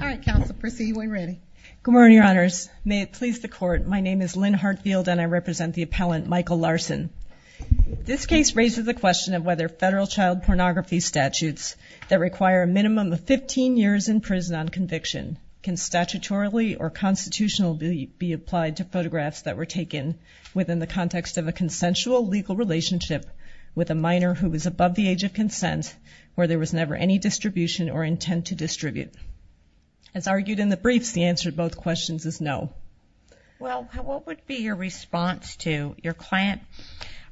This case raises the question of whether federal child pornography statutes that require a minimum of 15 years in prison on conviction can statutorily or constitutionally be applied to photographs that were taken within the context of a consensual legal relationship with a minor who was above the age of consent, where there was never any distribution or intent to discriminate against a minor. As argued in the briefs, the answer to both questions is no. Well, what would be your response to your client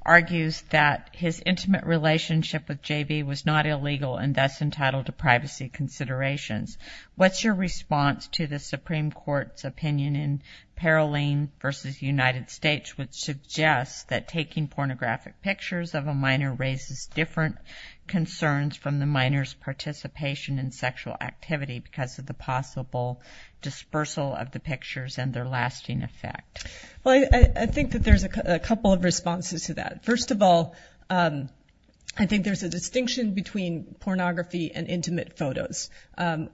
argues that his intimate relationship with J.B. was not illegal and thus entitled to privacy considerations? What's your response to the Supreme Court's opinion in Paroline v. United States which suggests that taking pornographic pictures of a minor raises different concerns from the minor's participation in sexual activity because of the possible dispersal of the pictures and their lasting effect? Well, I think that there's a couple of responses to that. First of all, I think there's a distinction between pornography and intimate photos.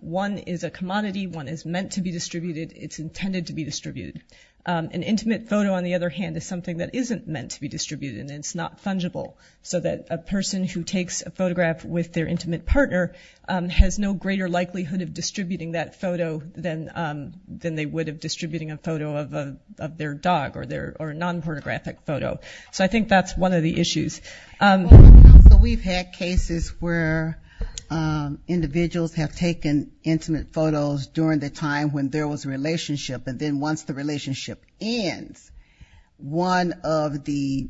One is a commodity. One is meant to be distributed. It's intended to be distributed. An intimate photo, on the other hand, is something that isn't meant to be distributed and it's not fungible, so that a person who takes a photograph with their intimate partner has no greater likelihood of distributing that photo than they would of distributing a photo of their dog or a non-pornographic photo. So I think that's one of the issues. So we've had cases where individuals have taken intimate photos during the time when there was a relationship and then once the relationship ends, one of the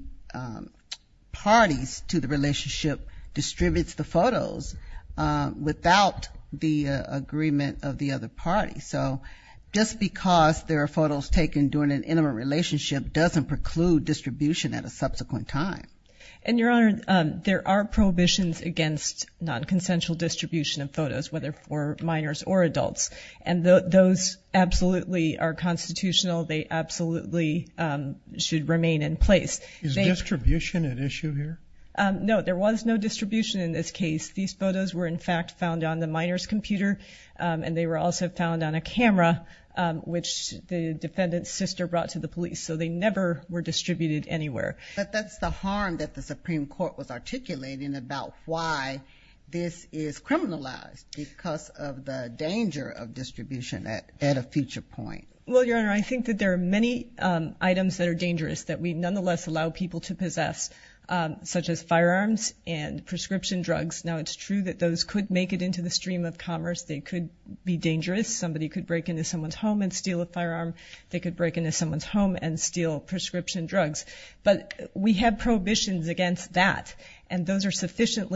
parties to the relationship distributes the photos without the agreement of the other party. So just because there are photos taken during an intimate relationship doesn't preclude distribution at a subsequent time. And, Your Honor, there are prohibitions against non-consensual distribution of photos, whether for minors or adults, and those absolutely are constitutional. They absolutely should remain in place. Is distribution an issue here? No, there was no distribution in this case. These photos were, in fact, found on the minor's computer and they were also found on a camera, which the defendant's sister brought to the police. So they never were distributed anywhere. But that's the harm that the Supreme Court was articulating about why this is criminalized because of the danger of distribution at a future point. Well, Your Honor, I think that there are many items that are dangerous that we nonetheless allow people to possess, such as firearms and prescription drugs. Now, it's true that those could make it into the stream of commerce. They could be dangerous. Somebody could break into someone's home and steal a firearm. They could break into someone's home and steal prescription drugs. But we have prohibitions against that, and those are sufficient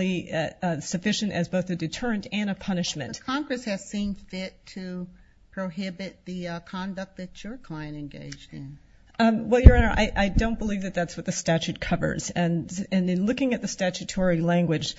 as both a deterrent and a punishment. But Congress has seen fit to prohibit the conduct that your client engaged in. Well, Your Honor, I don't believe that that's what the statute covers. And in looking at the statutory language,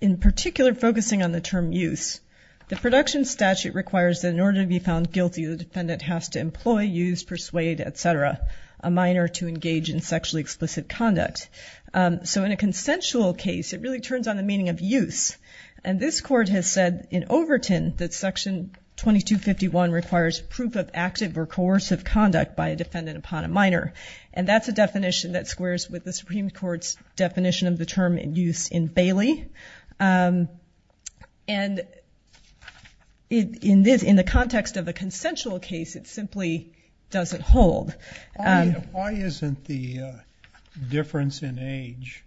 in particular focusing on the term use, the production statute requires that in order to be found guilty, the defendant has to employ, use, persuade, etc., a minor to engage in sexually explicit conduct. So in a consensual case, it really turns on the meaning of use. And this court has said in Overton that Section 2251 requires proof of active or coercive conduct by a defendant upon a minor. And that's a definition that squares with the Supreme Court's definition of the term use in Bailey. And in the context of a consensual case, it simply doesn't hold. Why isn't the difference in age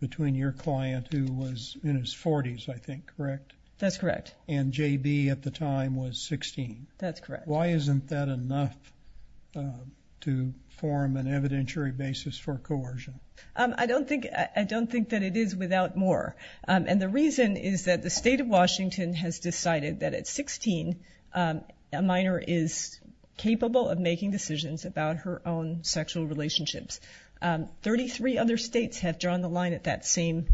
between your client, who was in his 40s, I think, correct? That's correct. And J.B. at the time was 16. That's correct. Why isn't that enough to form an evidentiary basis for coercion? I don't think that it is without more. And the reason is that the state of Washington has decided that at 16, a minor is capable of making decisions about her own sexual relationships. Thirty-three other states have drawn the line at that same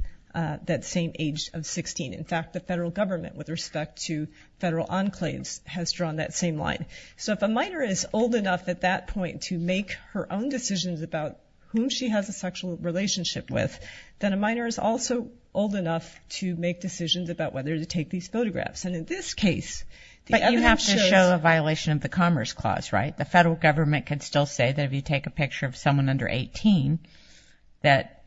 age of 16. In fact, the federal government, with respect to federal enclaves, has drawn that same line. So if a minor is old enough at that point to make her own decisions about whom she has a sexual relationship with, then a minor is also old enough to make decisions about whether to take these photographs. But you have to show a violation of the Commerce Clause, right? The federal government can still say that if you take a picture of someone under 18 that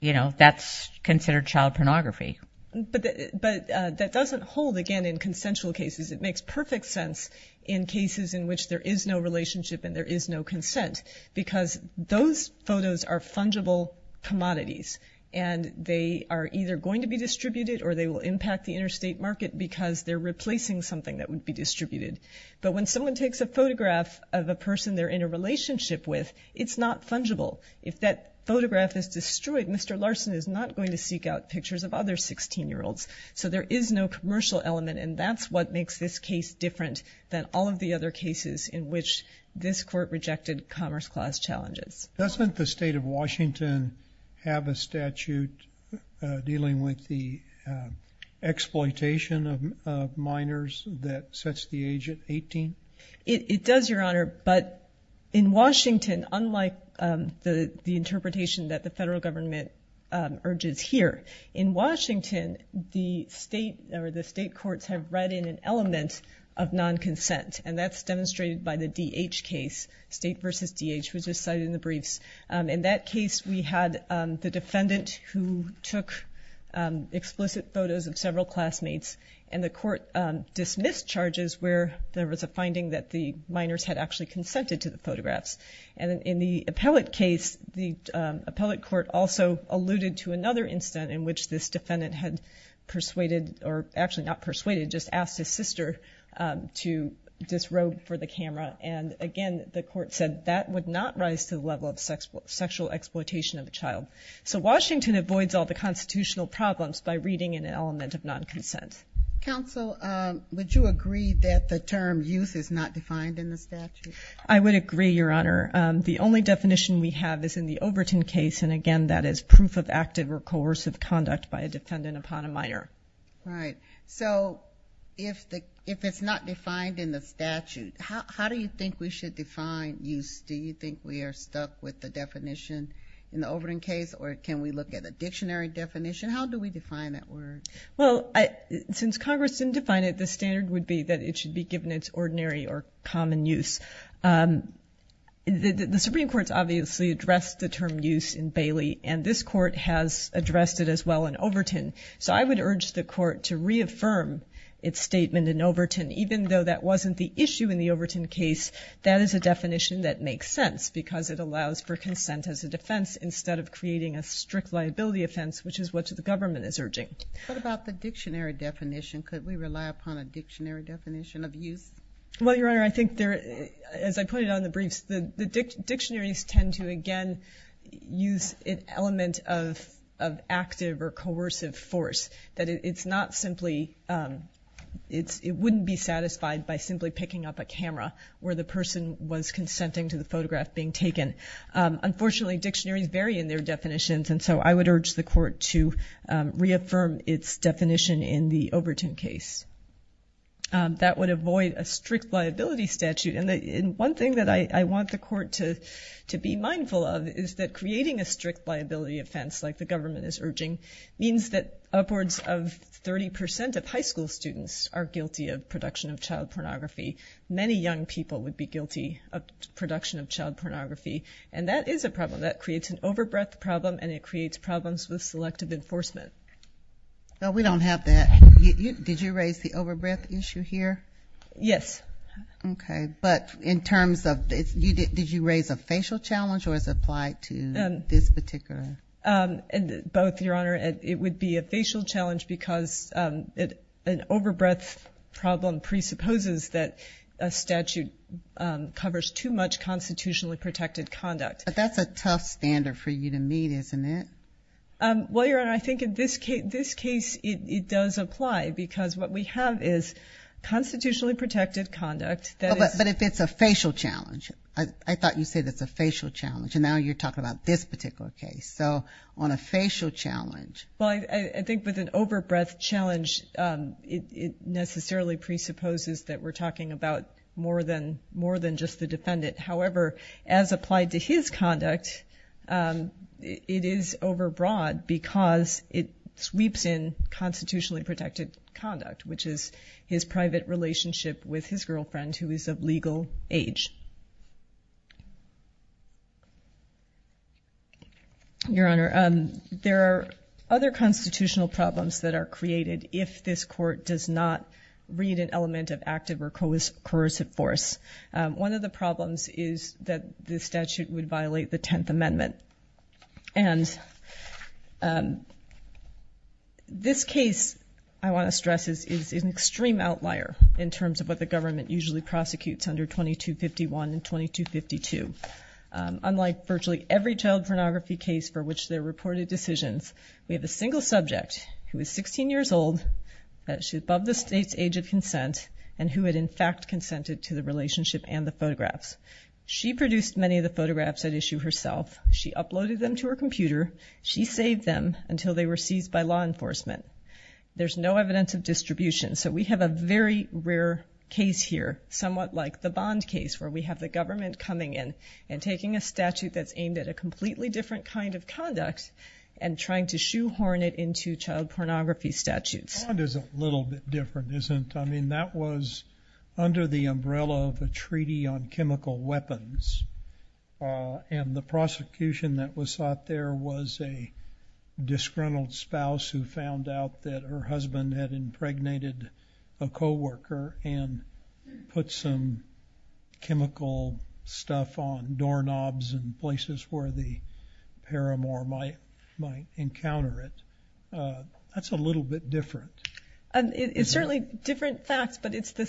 that's considered child pornography. But that doesn't hold, again, in consensual cases. It makes perfect sense in cases in which there is no relationship and there is no consent because those photos are fungible commodities. And they are either going to be distributed or they will impact the interstate market because they're replacing something that would be distributed. But when someone takes a photograph of a person they're in a relationship with, it's not fungible. If that photograph is destroyed, Mr. Larson is not going to seek out pictures of other 16-year-olds. So there is no commercial element. And that's what makes this case different than all of the other cases in which this court rejected Commerce Clause challenges. Doesn't the state of Washington have a statute dealing with the exploitation of minors that sets the age at 18? It does, Your Honor, but in Washington, unlike the interpretation that the federal government urges here, in Washington, the state courts have read in an element of non-consent. And that's demonstrated by the D.H. case, State v. D.H., which was cited in the briefs. In that case, we had the defendant who took explicit photos of several classmates, and the court dismissed charges where there was a finding that the minors had actually consented to the photographs. And in the appellate case, the appellate court also alluded to another incident in which this defendant had persuaded, or actually not persuaded, just asked his sister to disrobe for the camera. And again, the court said that would not rise to the level of sexual exploitation of a child. So Washington avoids all the constitutional problems by reading in an element of non-consent. Counsel, would you agree that the term youth is not defined in the statute? I would agree, Your Honor. The only definition we have is in the Overton case, and again, that is proof of active or coercive conduct by a defendant upon a minor. Right. So if it's not defined in the statute, how do you think we should define youth? Do you think we are stuck with the definition in the Overton case, or can we look at a dictionary definition? How do we define that word? Well, since Congress didn't define it, the standard would be that it should be given its ordinary or common use. The Supreme Court's obviously addressed the term youth in Bailey, and this court has addressed it as well in Overton. So I would urge the court to reaffirm its statement in Overton, even though that wasn't the issue in the Overton case. That is a definition that makes sense because it allows for consent as a defense instead of creating a strict liability offense, which is what the government is urging. What about the dictionary definition? Could we rely upon a dictionary definition of youth? Well, Your Honor, I think, as I put it on the briefs, the dictionaries tend to, again, use an element of active or coercive force, that it wouldn't be satisfied by simply picking up a camera where the person was consenting to the photograph being taken. Unfortunately, dictionaries vary in their definitions, and so I would urge the court to reaffirm its definition in the Overton case. That would avoid a strict liability statute. And one thing that I want the court to be mindful of is that creating a strict liability offense like the government is urging means that upwards of 30 percent of high school students are guilty of production of child pornography. Many young people would be guilty of production of child pornography, and that is a problem. That creates an overbreadth problem, and it creates problems with selective enforcement. Well, we don't have that. Did you raise the overbreadth issue here? Yes. Okay. But in terms of did you raise a facial challenge or is it applied to this particular? Both, Your Honor. It would be a facial challenge because an overbreadth problem presupposes that a statute covers too much constitutionally protected conduct. But that's a tough standard for you to meet, isn't it? Well, Your Honor, I think in this case it does apply because what we have is constitutionally protected conduct. But if it's a facial challenge. I thought you said it's a facial challenge, and now you're talking about this particular case. So on a facial challenge. Well, I think with an overbreadth challenge it necessarily presupposes that we're talking about more than just the defendant. However, as applied to his conduct, it is overbroad because it sweeps in constitutionally protected conduct, which is his private relationship with his girlfriend who is of legal age. Your Honor, there are other constitutional problems that are created if this court does not read an element of active or coercive force. One of the problems is that the statute would violate the Tenth Amendment. And this case, I want to stress, is an extreme outlier in terms of what the government usually prosecutes under 2251 and 2252. Unlike virtually every child pornography case for which there are reported decisions, we have a single subject who is 16 years old, above the state's age of consent, and who had in fact consented to the relationship and the photographs. She produced many of the photographs at issue herself. She uploaded them to her computer. She saved them until they were seized by law enforcement. There's no evidence of distribution, so we have a very rare case here, somewhat like the Bond case, where we have the government coming in and taking a statute that's aimed at a completely different kind of conduct and trying to shoehorn it into child pornography statutes. Bond is a little bit different, isn't it? I mean, that was under the umbrella of a treaty on chemical weapons, and the prosecution that was sought there was a disgruntled spouse who found out that her husband had impregnated a co-worker and put some chemical stuff on doorknobs in places where the paramour might encounter it. That's a little bit different. It's certainly different facts, but it's the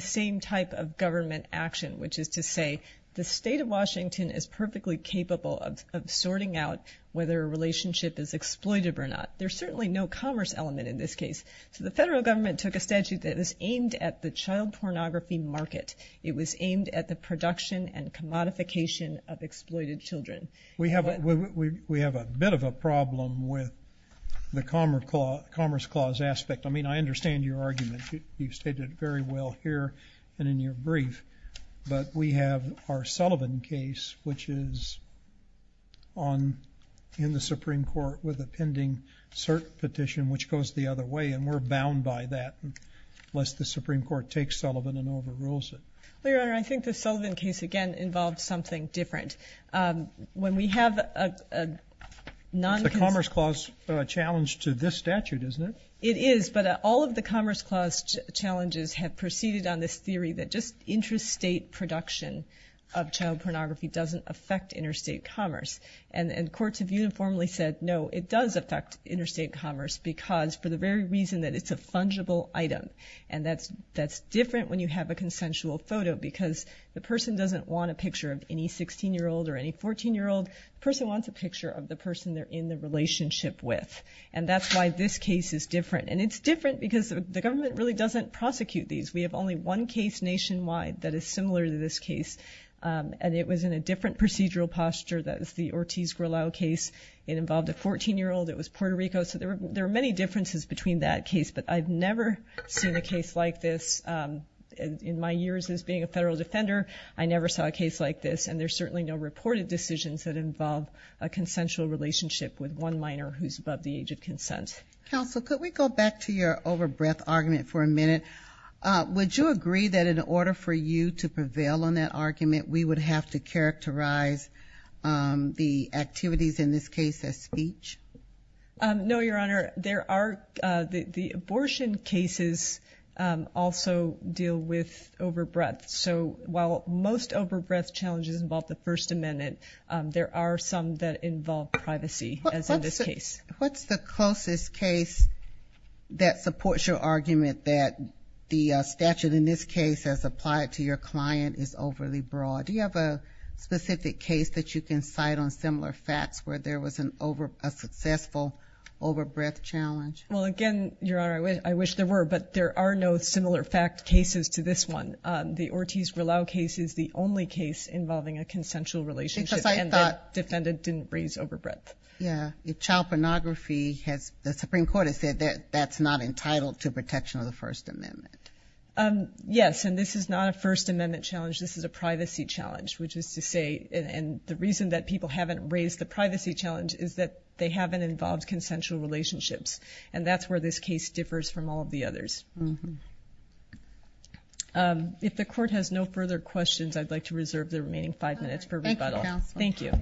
same type of government action, which is to say the state of Washington is perfectly capable of sorting out whether a relationship is exploited or not. There's certainly no commerce element in this case. So the federal government took a statute that was aimed at the child pornography market. It was aimed at the production and commodification of exploited children. We have a bit of a problem with the Commerce Clause aspect. I mean, I understand your argument. You've stated it very well here and in your brief. But we have our Sullivan case, which is in the Supreme Court with a pending cert petition, which goes the other way, and we're bound by that unless the Supreme Court takes Sullivan and overrules it. Well, Your Honor, I think the Sullivan case, again, involves something different. When we have a non- It's the Commerce Clause challenge to this statute, isn't it? It is, but all of the Commerce Clause challenges have proceeded on this theory that just intrastate production of child pornography doesn't affect interstate commerce. And courts have uniformly said, no, it does affect interstate commerce because for the very reason that it's a fungible item, and that's different when you have a consensual photo because the person doesn't want a picture of any 16-year-old or any 14-year-old. The person wants a picture of the person they're in the relationship with, and that's why this case is different. And it's different because the government really doesn't prosecute these. We have only one case nationwide that is similar to this case, and it was in a different procedural posture. That was the Ortiz-Gorlau case. It involved a 14-year-old. It was Puerto Rico. So there are many differences between that case, but I've never seen a case like this in my years as being a federal defender. I never saw a case like this, and there's certainly no reported decisions that involve a consensual relationship with one minor who's above the age of consent. Counsel, could we go back to your over-breath argument for a minute? Would you agree that in order for you to prevail on that argument, we would have to characterize the activities in this case as speech? No, Your Honor. The abortion cases also deal with over-breath. So while most over-breath challenges involve the First Amendment, there are some that involve privacy, as in this case. What's the closest case that supports your argument that the statute in this case as applied to your client is overly broad? Do you have a specific case that you can cite on similar facts where there was a successful over-breath challenge? Well, again, Your Honor, I wish there were, but there are no similar fact cases to this one. The Ortiz-Rullao case is the only case involving a consensual relationship and the defendant didn't raise over-breath. Yeah. Child pornography, the Supreme Court has said that that's not entitled to protection of the First Amendment. Yes, and this is not a First Amendment challenge. This is a privacy challenge, which is to say, and the reason that people haven't raised the privacy challenge is that they haven't involved consensual relationships, and that's where this case differs from all of the others. If the Court has no further questions, I'd like to reserve the remaining five minutes for rebuttal. Thank you, Counsel. Thank you.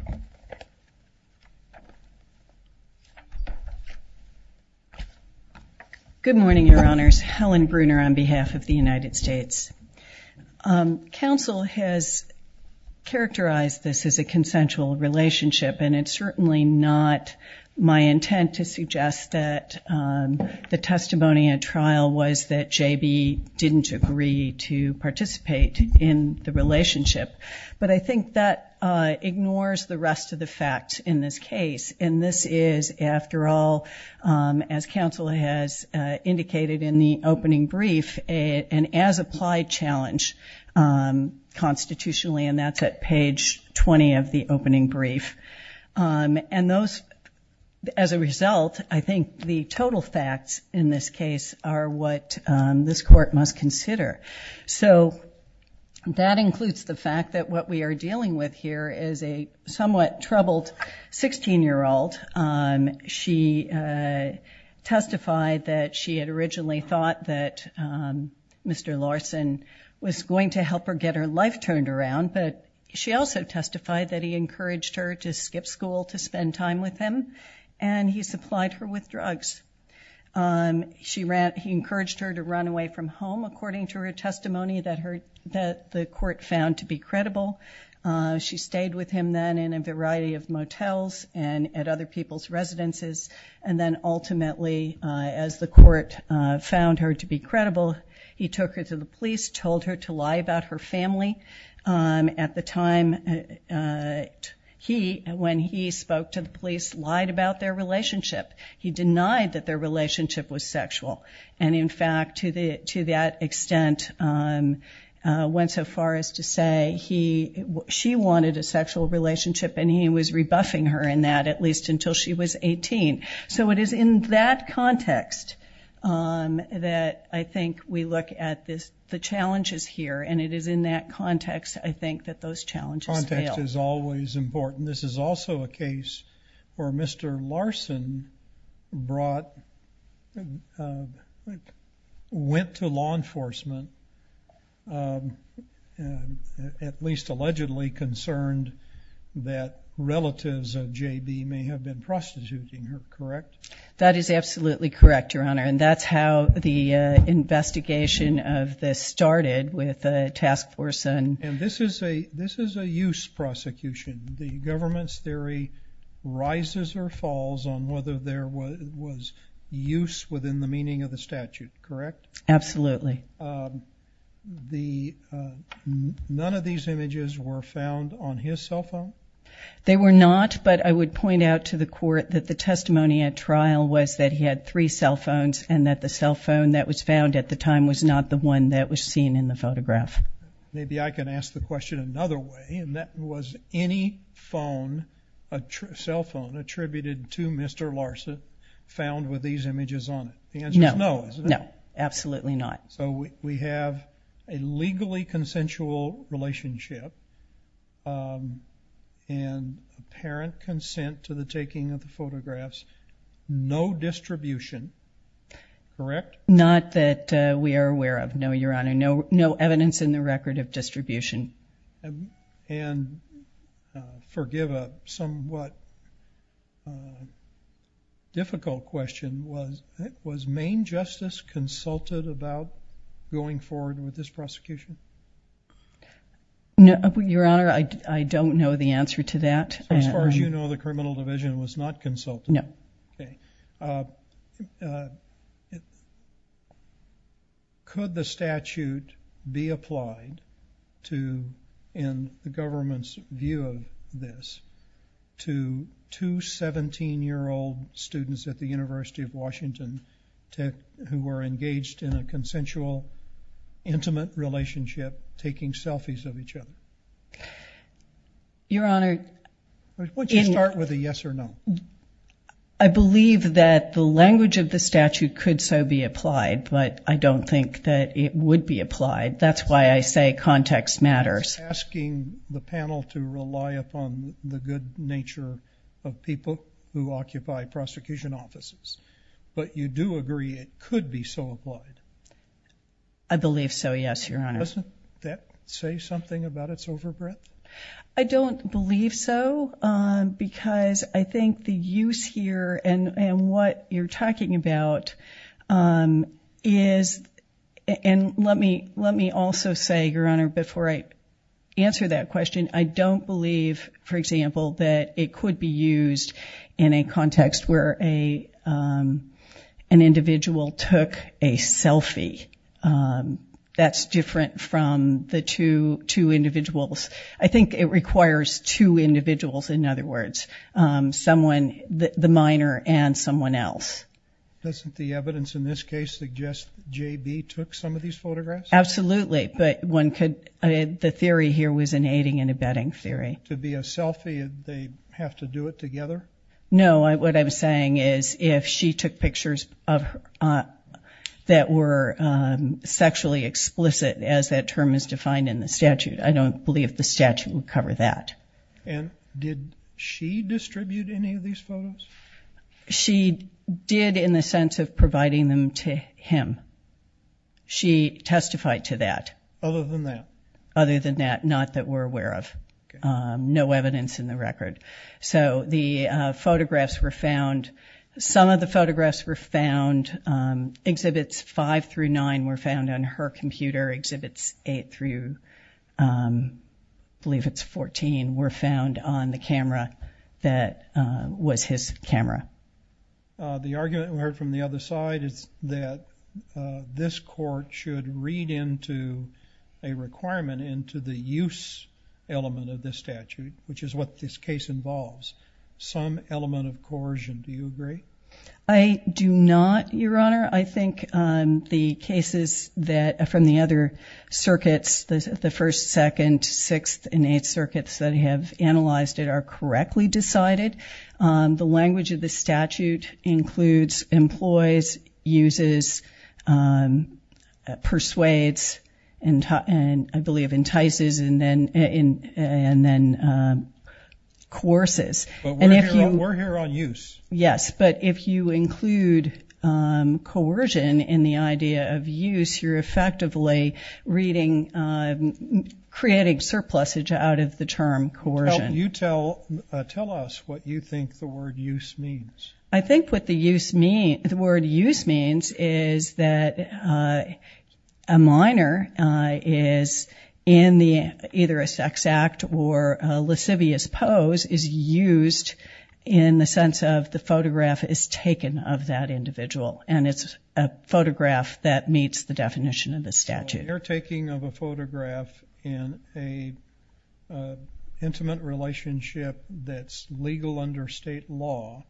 Good morning, Your Honors. Helen Bruner on behalf of the United States. Counsel has characterized this as a consensual relationship, and it's certainly not my intent to suggest that the testimony at trial was that J.B. didn't agree to participate in the relationship. But I think that ignores the rest of the facts in this case, and this is, after all, as Counsel has indicated in the opening brief, an as-applied challenge constitutionally, and that's at page 20 of the opening brief. And those, as a result, I think the total facts in this case are what this Court must consider. So that includes the fact that what we are dealing with here is a somewhat troubled 16-year-old. She testified that she had originally thought that Mr. Larson was going to help her get her life turned around, but she also testified that he encouraged her to skip school to spend time with him, and he supplied her with drugs. He encouraged her to run away from home, She stayed with him then in a variety of motels and at other people's residences, and then ultimately, as the Court found her to be credible, he took her to the police, told her to lie about her family. At the time when he spoke to the police, lied about their relationship. He denied that their relationship was sexual, and, in fact, to that extent, went so far as to say she wanted a sexual relationship, and he was rebuffing her in that at least until she was 18. So it is in that context that I think we look at the challenges here, and it is in that context, I think, that those challenges fail. Context is always important. This is also a case where Mr. Larson went to law enforcement, at least allegedly concerned that relatives of J.B. may have been prostituting her, correct? That is absolutely correct, Your Honor, and that's how the investigation of this started with the task force. And this is a use prosecution. The government's theory rises or falls on whether there was use within the meaning of the statute, correct? Absolutely. None of these images were found on his cell phone? They were not, but I would point out to the Court that the testimony at trial was that he had three cell phones and that the cell phone that Maybe I can ask the question another way, and that was any cell phone attributed to Mr. Larson found with these images on it? The answer is no, isn't it? No, absolutely not. So we have a legally consensual relationship and apparent consent to the taking of the photographs, no distribution, correct? Not that we are aware of, no, Your Honor. No evidence in the record of distribution. And forgive a somewhat difficult question, was Maine Justice consulted about going forward with this prosecution? No, Your Honor, I don't know the answer to that. So as far as you know, the criminal division was not consulted? No. Okay. Could the statute be applied to, in the government's view of this, to two 17-year-old students at the University of Washington who were engaged in a consensual, intimate relationship, taking selfies of each other? Your Honor. Why don't you start with a yes or no? I believe that the language of the statute could so be applied, but I don't think that it would be applied. That's why I say context matters. It's asking the panel to rely upon the good nature of people who occupy prosecution offices. But you do agree it could be so applied? I believe so, yes, Your Honor. Doesn't that say something about its overbreadth? I don't believe so, because I think the use here, and what you're talking about is, and let me also say, Your Honor, before I answer that question, I don't believe, for example, that it could be used in a context where an individual took a selfie. That's different from the two individuals. I think it requires two individuals, in other words, someone, the minor, and someone else. Doesn't the evidence in this case suggest J.B. took some of these photographs? Absolutely, but the theory here was an aiding and abetting theory. To be a selfie, they have to do it together? No. What I'm saying is if she took pictures that were sexually explicit, as that term is defined in the statute, I don't believe the statute would cover that. And did she distribute any of these photos? She did in the sense of providing them to him. She testified to that. Other than that? Other than that, not that we're aware of. No evidence in the record. So the photographs were found, some of the photographs were found, exhibits five through nine were found on her computer, exhibits eight through, I believe it's 14, were found on the camera that was his camera. The argument we heard from the other side is that this court should read into a requirement into the use element of this statute, which is what this case involves, some element of coercion. Do you agree? I do not, Your Honor. I think the cases from the other circuits, the first, second, sixth, and eighth circuits that have analyzed it are correctly decided. The language of the statute includes employs, uses, persuades, and I believe entices, and then coerces. But we're here on use. Yes, but if you include coercion in the idea of use, you're effectively creating surplusage out of the term coercion. Tell us what you think the word use means. I think what the word use means is that a minor is in either a sex act or a lascivious pose is used in the sense of the photograph is taken of that individual, and it's a photograph that meets the definition of the statute. Well, the undertaking of a photograph in an intimate relationship that's legal under state law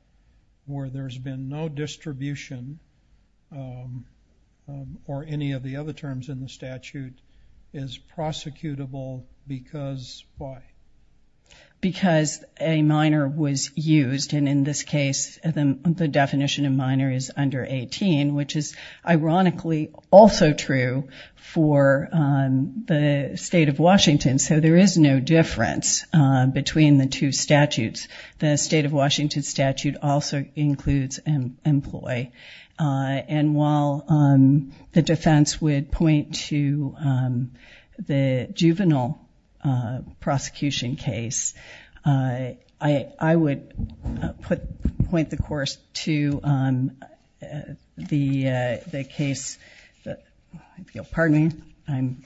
where there's been no distribution or any of the other terms in the statute is prosecutable because why? Because a minor was used, and in this case, the definition of minor is under 18, which is ironically also true for the state of Washington. So there is no difference between the two statutes. The state of Washington statute also includes employ. And while the defense would point to the juvenile prosecution case, I would point the course to the case that, pardon me.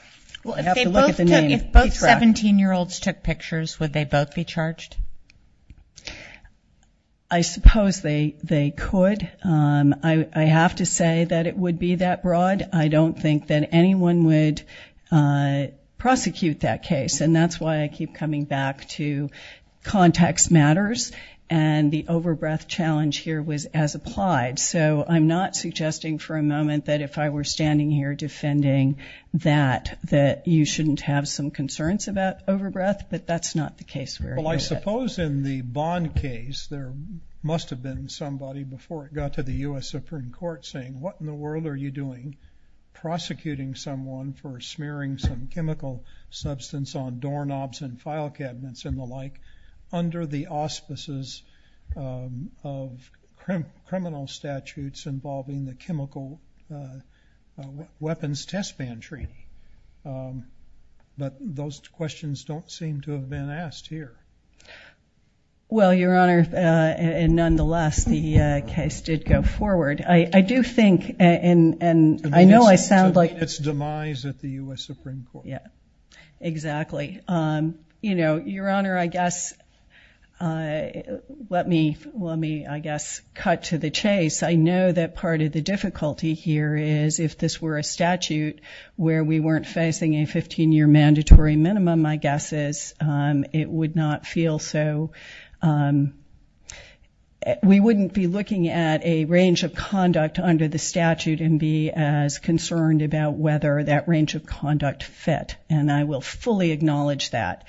I have to look at the name. If both 17-year-olds took pictures, would they both be charged? I suppose they could. I have to say that it would be that broad. I don't think that anyone would prosecute that case, and that's why I keep coming back to context matters, and the over-breath challenge here was as applied. So I'm not suggesting for a moment that if I were standing here defending that, that you shouldn't have some concerns about over-breath, but that's not the case. Well, I suppose in the Bond case, there must have been somebody before it got to the U.S. Supreme Court saying, what in the world are you doing prosecuting someone for smearing some chemical substance on doorknobs and file cabinets and the like under the auspices of criminal statutes involving the chemical weapons test ban treaty. But those questions don't seem to have been asked here. Well, Your Honor, and nonetheless, the case did go forward. I do think, and I know I sound like – It's demise at the U.S. Supreme Court. Exactly. Your Honor, I guess let me, I guess, cut to the chase. I know that part of the difficulty here is if this were a statute where we weren't facing a 15-year mandatory minimum, my guess is it would not feel so. We wouldn't be looking at a range of conduct under the statute and be as concerned about whether that range of conduct fit. And I will fully acknowledge that.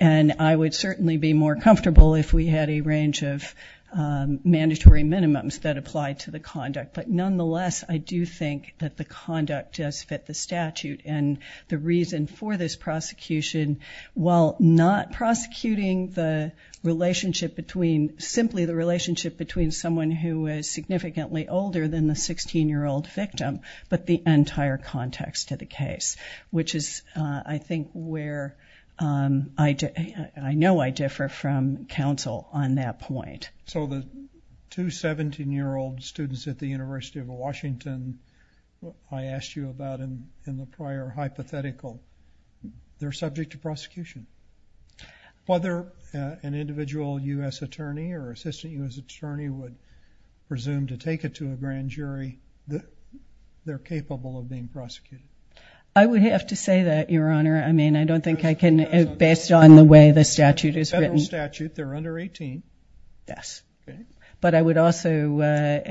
And I would certainly be more comfortable if we had a range of mandatory minimums that applied to the conduct. But nonetheless, I do think that the conduct does fit the statute and the reason for this prosecution, while not prosecuting the relationship between – simply the relationship between someone who is significantly older than the 16-year-old victim, but the entire context of the case, which is, I think, where I know I differ from counsel on that point. So the two 17-year-old students at the University of Washington I asked you about in the prior hypothetical, they're subject to prosecution. Whether an individual U.S. attorney or assistant U.S. attorney would presume to take it to a grand jury, they're capable of being prosecuted. I would have to say that, Your Honor. I mean, I don't think I can, based on the way the statute is written. In the statute, they're under 18. Yes. Okay. But I would also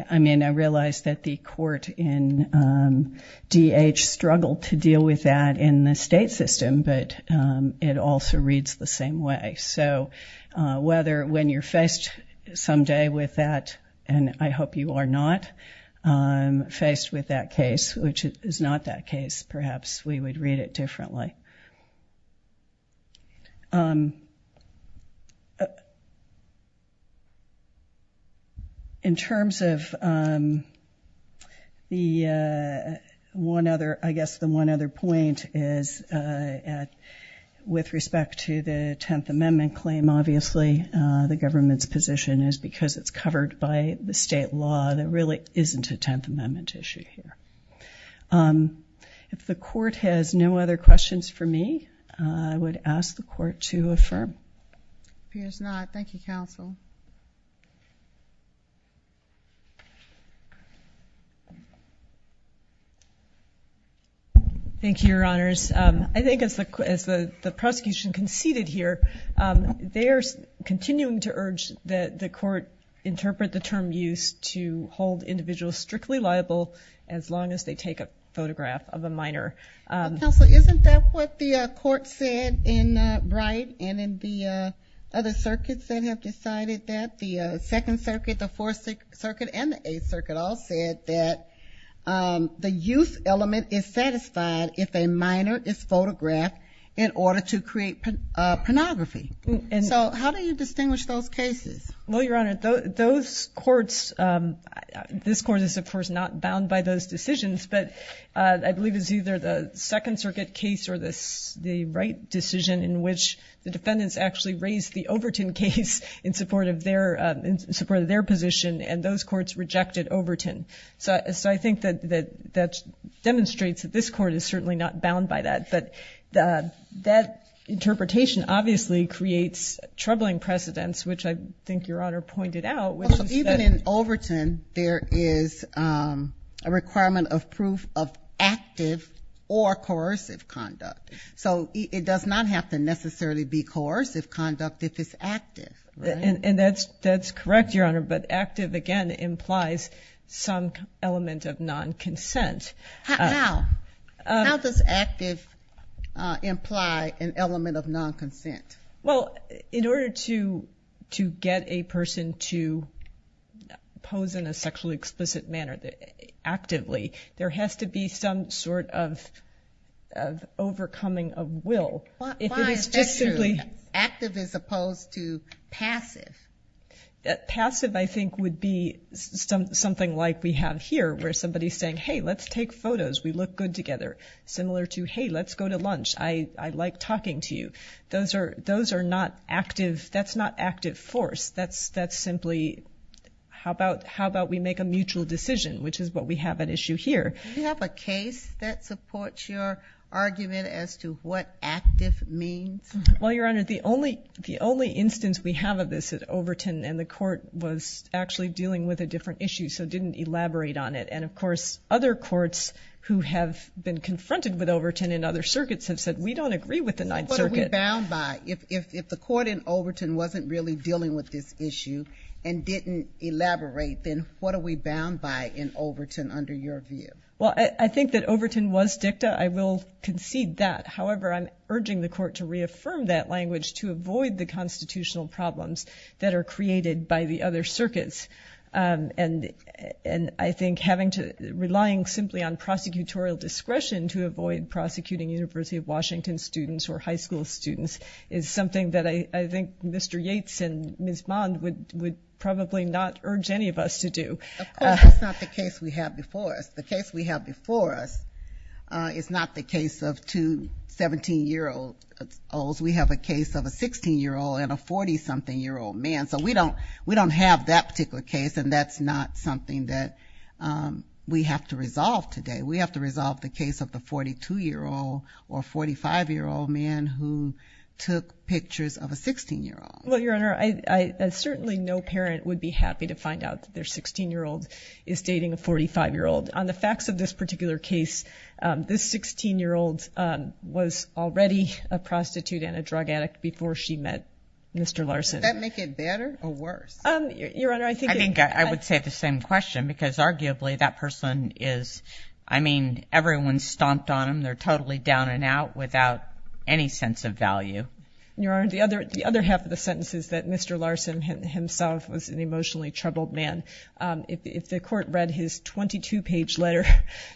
– I mean, I realize that the court in D.H. struggled to deal with that in the state system, but it also reads the same way. So whether – when you're faced someday with that, and I hope you are not faced with that case, which is not that case, perhaps we would read it differently. In terms of the one other – I guess the one other point is, with respect to the Tenth Amendment claim, obviously, the government's position is because it's the Tenth Amendment issue here. If the court has no other questions for me, I would ask the court to affirm. Appears not. Thank you, counsel. Thank you, Your Honors. I think as the prosecution conceded here, they are continuing to urge that the as long as they take a photograph of a minor. Counsel, isn't that what the court said in Bright and in the other circuits that have decided that? The Second Circuit, the Fourth Circuit, and the Eighth Circuit all said that the youth element is satisfied if a minor is photographed in order to create pornography. So how do you distinguish those cases? Well, Your Honor, those courts – this court is, of course, not bound by those decisions, but I believe it's either the Second Circuit case or the Wright decision in which the defendants actually raised the Overton case in support of their position, and those courts rejected Overton. So I think that demonstrates that this court is certainly not bound by that. But that interpretation obviously creates troubling precedents, which I think Your Honor pointed out. Even in Overton, there is a requirement of proof of active or coercive conduct. So it does not have to necessarily be coercive conduct if it's active. And that's correct, Your Honor, but active, again, implies some element of non-consent. How? How does active imply an element of non-consent? Well, in order to get a person to pose in a sexually explicit manner actively, there has to be some sort of overcoming of will. Why is that true, active as opposed to passive? Passive, I think, would be something like we have here where somebody is saying, hey, let's take photos. We look good together. Similar to, hey, let's go to lunch. I like talking to you. Those are not active. That's not active force. That's simply how about we make a mutual decision, which is what we have at issue here. Do you have a case that supports your argument as to what active means? Well, Your Honor, the only instance we have of this at Overton, and the court was actually dealing with a different issue, so didn't elaborate on it. And, of course, other courts who have been confronted with Overton and other circuits have said, we don't agree with the Ninth Circuit. What are we bound by? If the court in Overton wasn't really dealing with this issue and didn't elaborate, then what are we bound by in Overton under your view? Well, I think that Overton was dicta. I will concede that. However, I'm urging the court to reaffirm that language to avoid the constitutional problems that are created by the other circuits. And I think relying simply on prosecutorial discretion to avoid prosecuting University of Washington students or high school students is something that I think Mr. Yates and Ms. Bond would probably not urge any of us to do. Of course, that's not the case we have before us. The case we have before us is not the case of two 17-year-olds. We have a case of a 16-year-old and a 40-something-year-old man. So we don't have that particular case, and that's not something that we have to resolve today. We have to resolve the case of the 42-year-old or 45-year-old man who took pictures of a 16-year-old. Well, Your Honor, certainly no parent would be happy to find out that their 16-year-old is dating a 45-year-old. On the facts of this particular case, this 16-year-old was already a prostitute and a drug addict before she met Mr. Larson. Does that make it better or worse? I think I would say the same question because arguably that person is, I mean, everyone stomped on them. They're totally down and out without any sense of value. Your Honor, the other half of the sentence is that Mr. Larson himself was an emotionally troubled man. If the court read his 22-page letter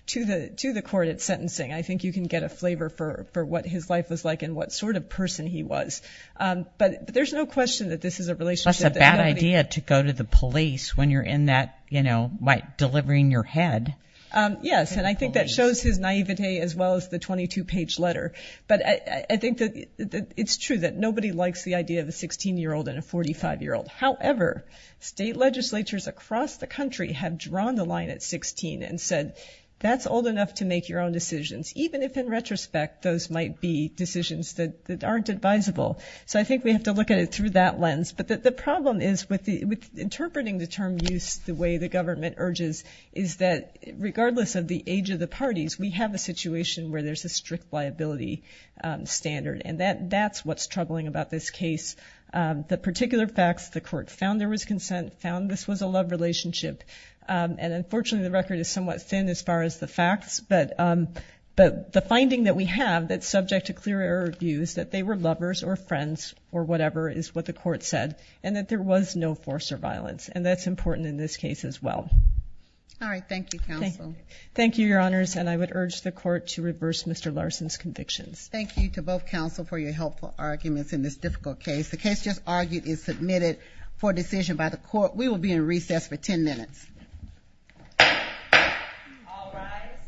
to the court at sentencing, I think you can get a flavor for what his life was like and what sort of person he was. But there's no question that this is a relationship that nobody – Well, it's a bad idea to go to the police when you're in that, you know, delivering your head. Yes, and I think that shows his naivete as well as the 22-page letter. But I think that it's true that nobody likes the idea of a 16-year-old and a 45-year-old. However, state legislatures across the country have drawn the line at 16 and said that's old enough to make your own decisions, even if in retrospect those might be decisions that aren't advisable. So I think we have to look at it through that lens. But the problem is with interpreting the term use the way the government urges is that regardless of the age of the parties, we have a situation where there's a strict liability standard. And that's what's troubling about this case. The particular facts, the court found there was consent, found this was a love relationship, and unfortunately the record is somewhat thin as far as the they were lovers or friends or whatever is what the court said, and that there was no force or violence. And that's important in this case as well. All right. Thank you, counsel. Thank you, Your Honors. And I would urge the court to reverse Mr. Larson's convictions. Thank you to both counsel for your helpful arguments in this difficult case. The case just argued is submitted for decision by the court. We will be in recess for 10 minutes. All rise.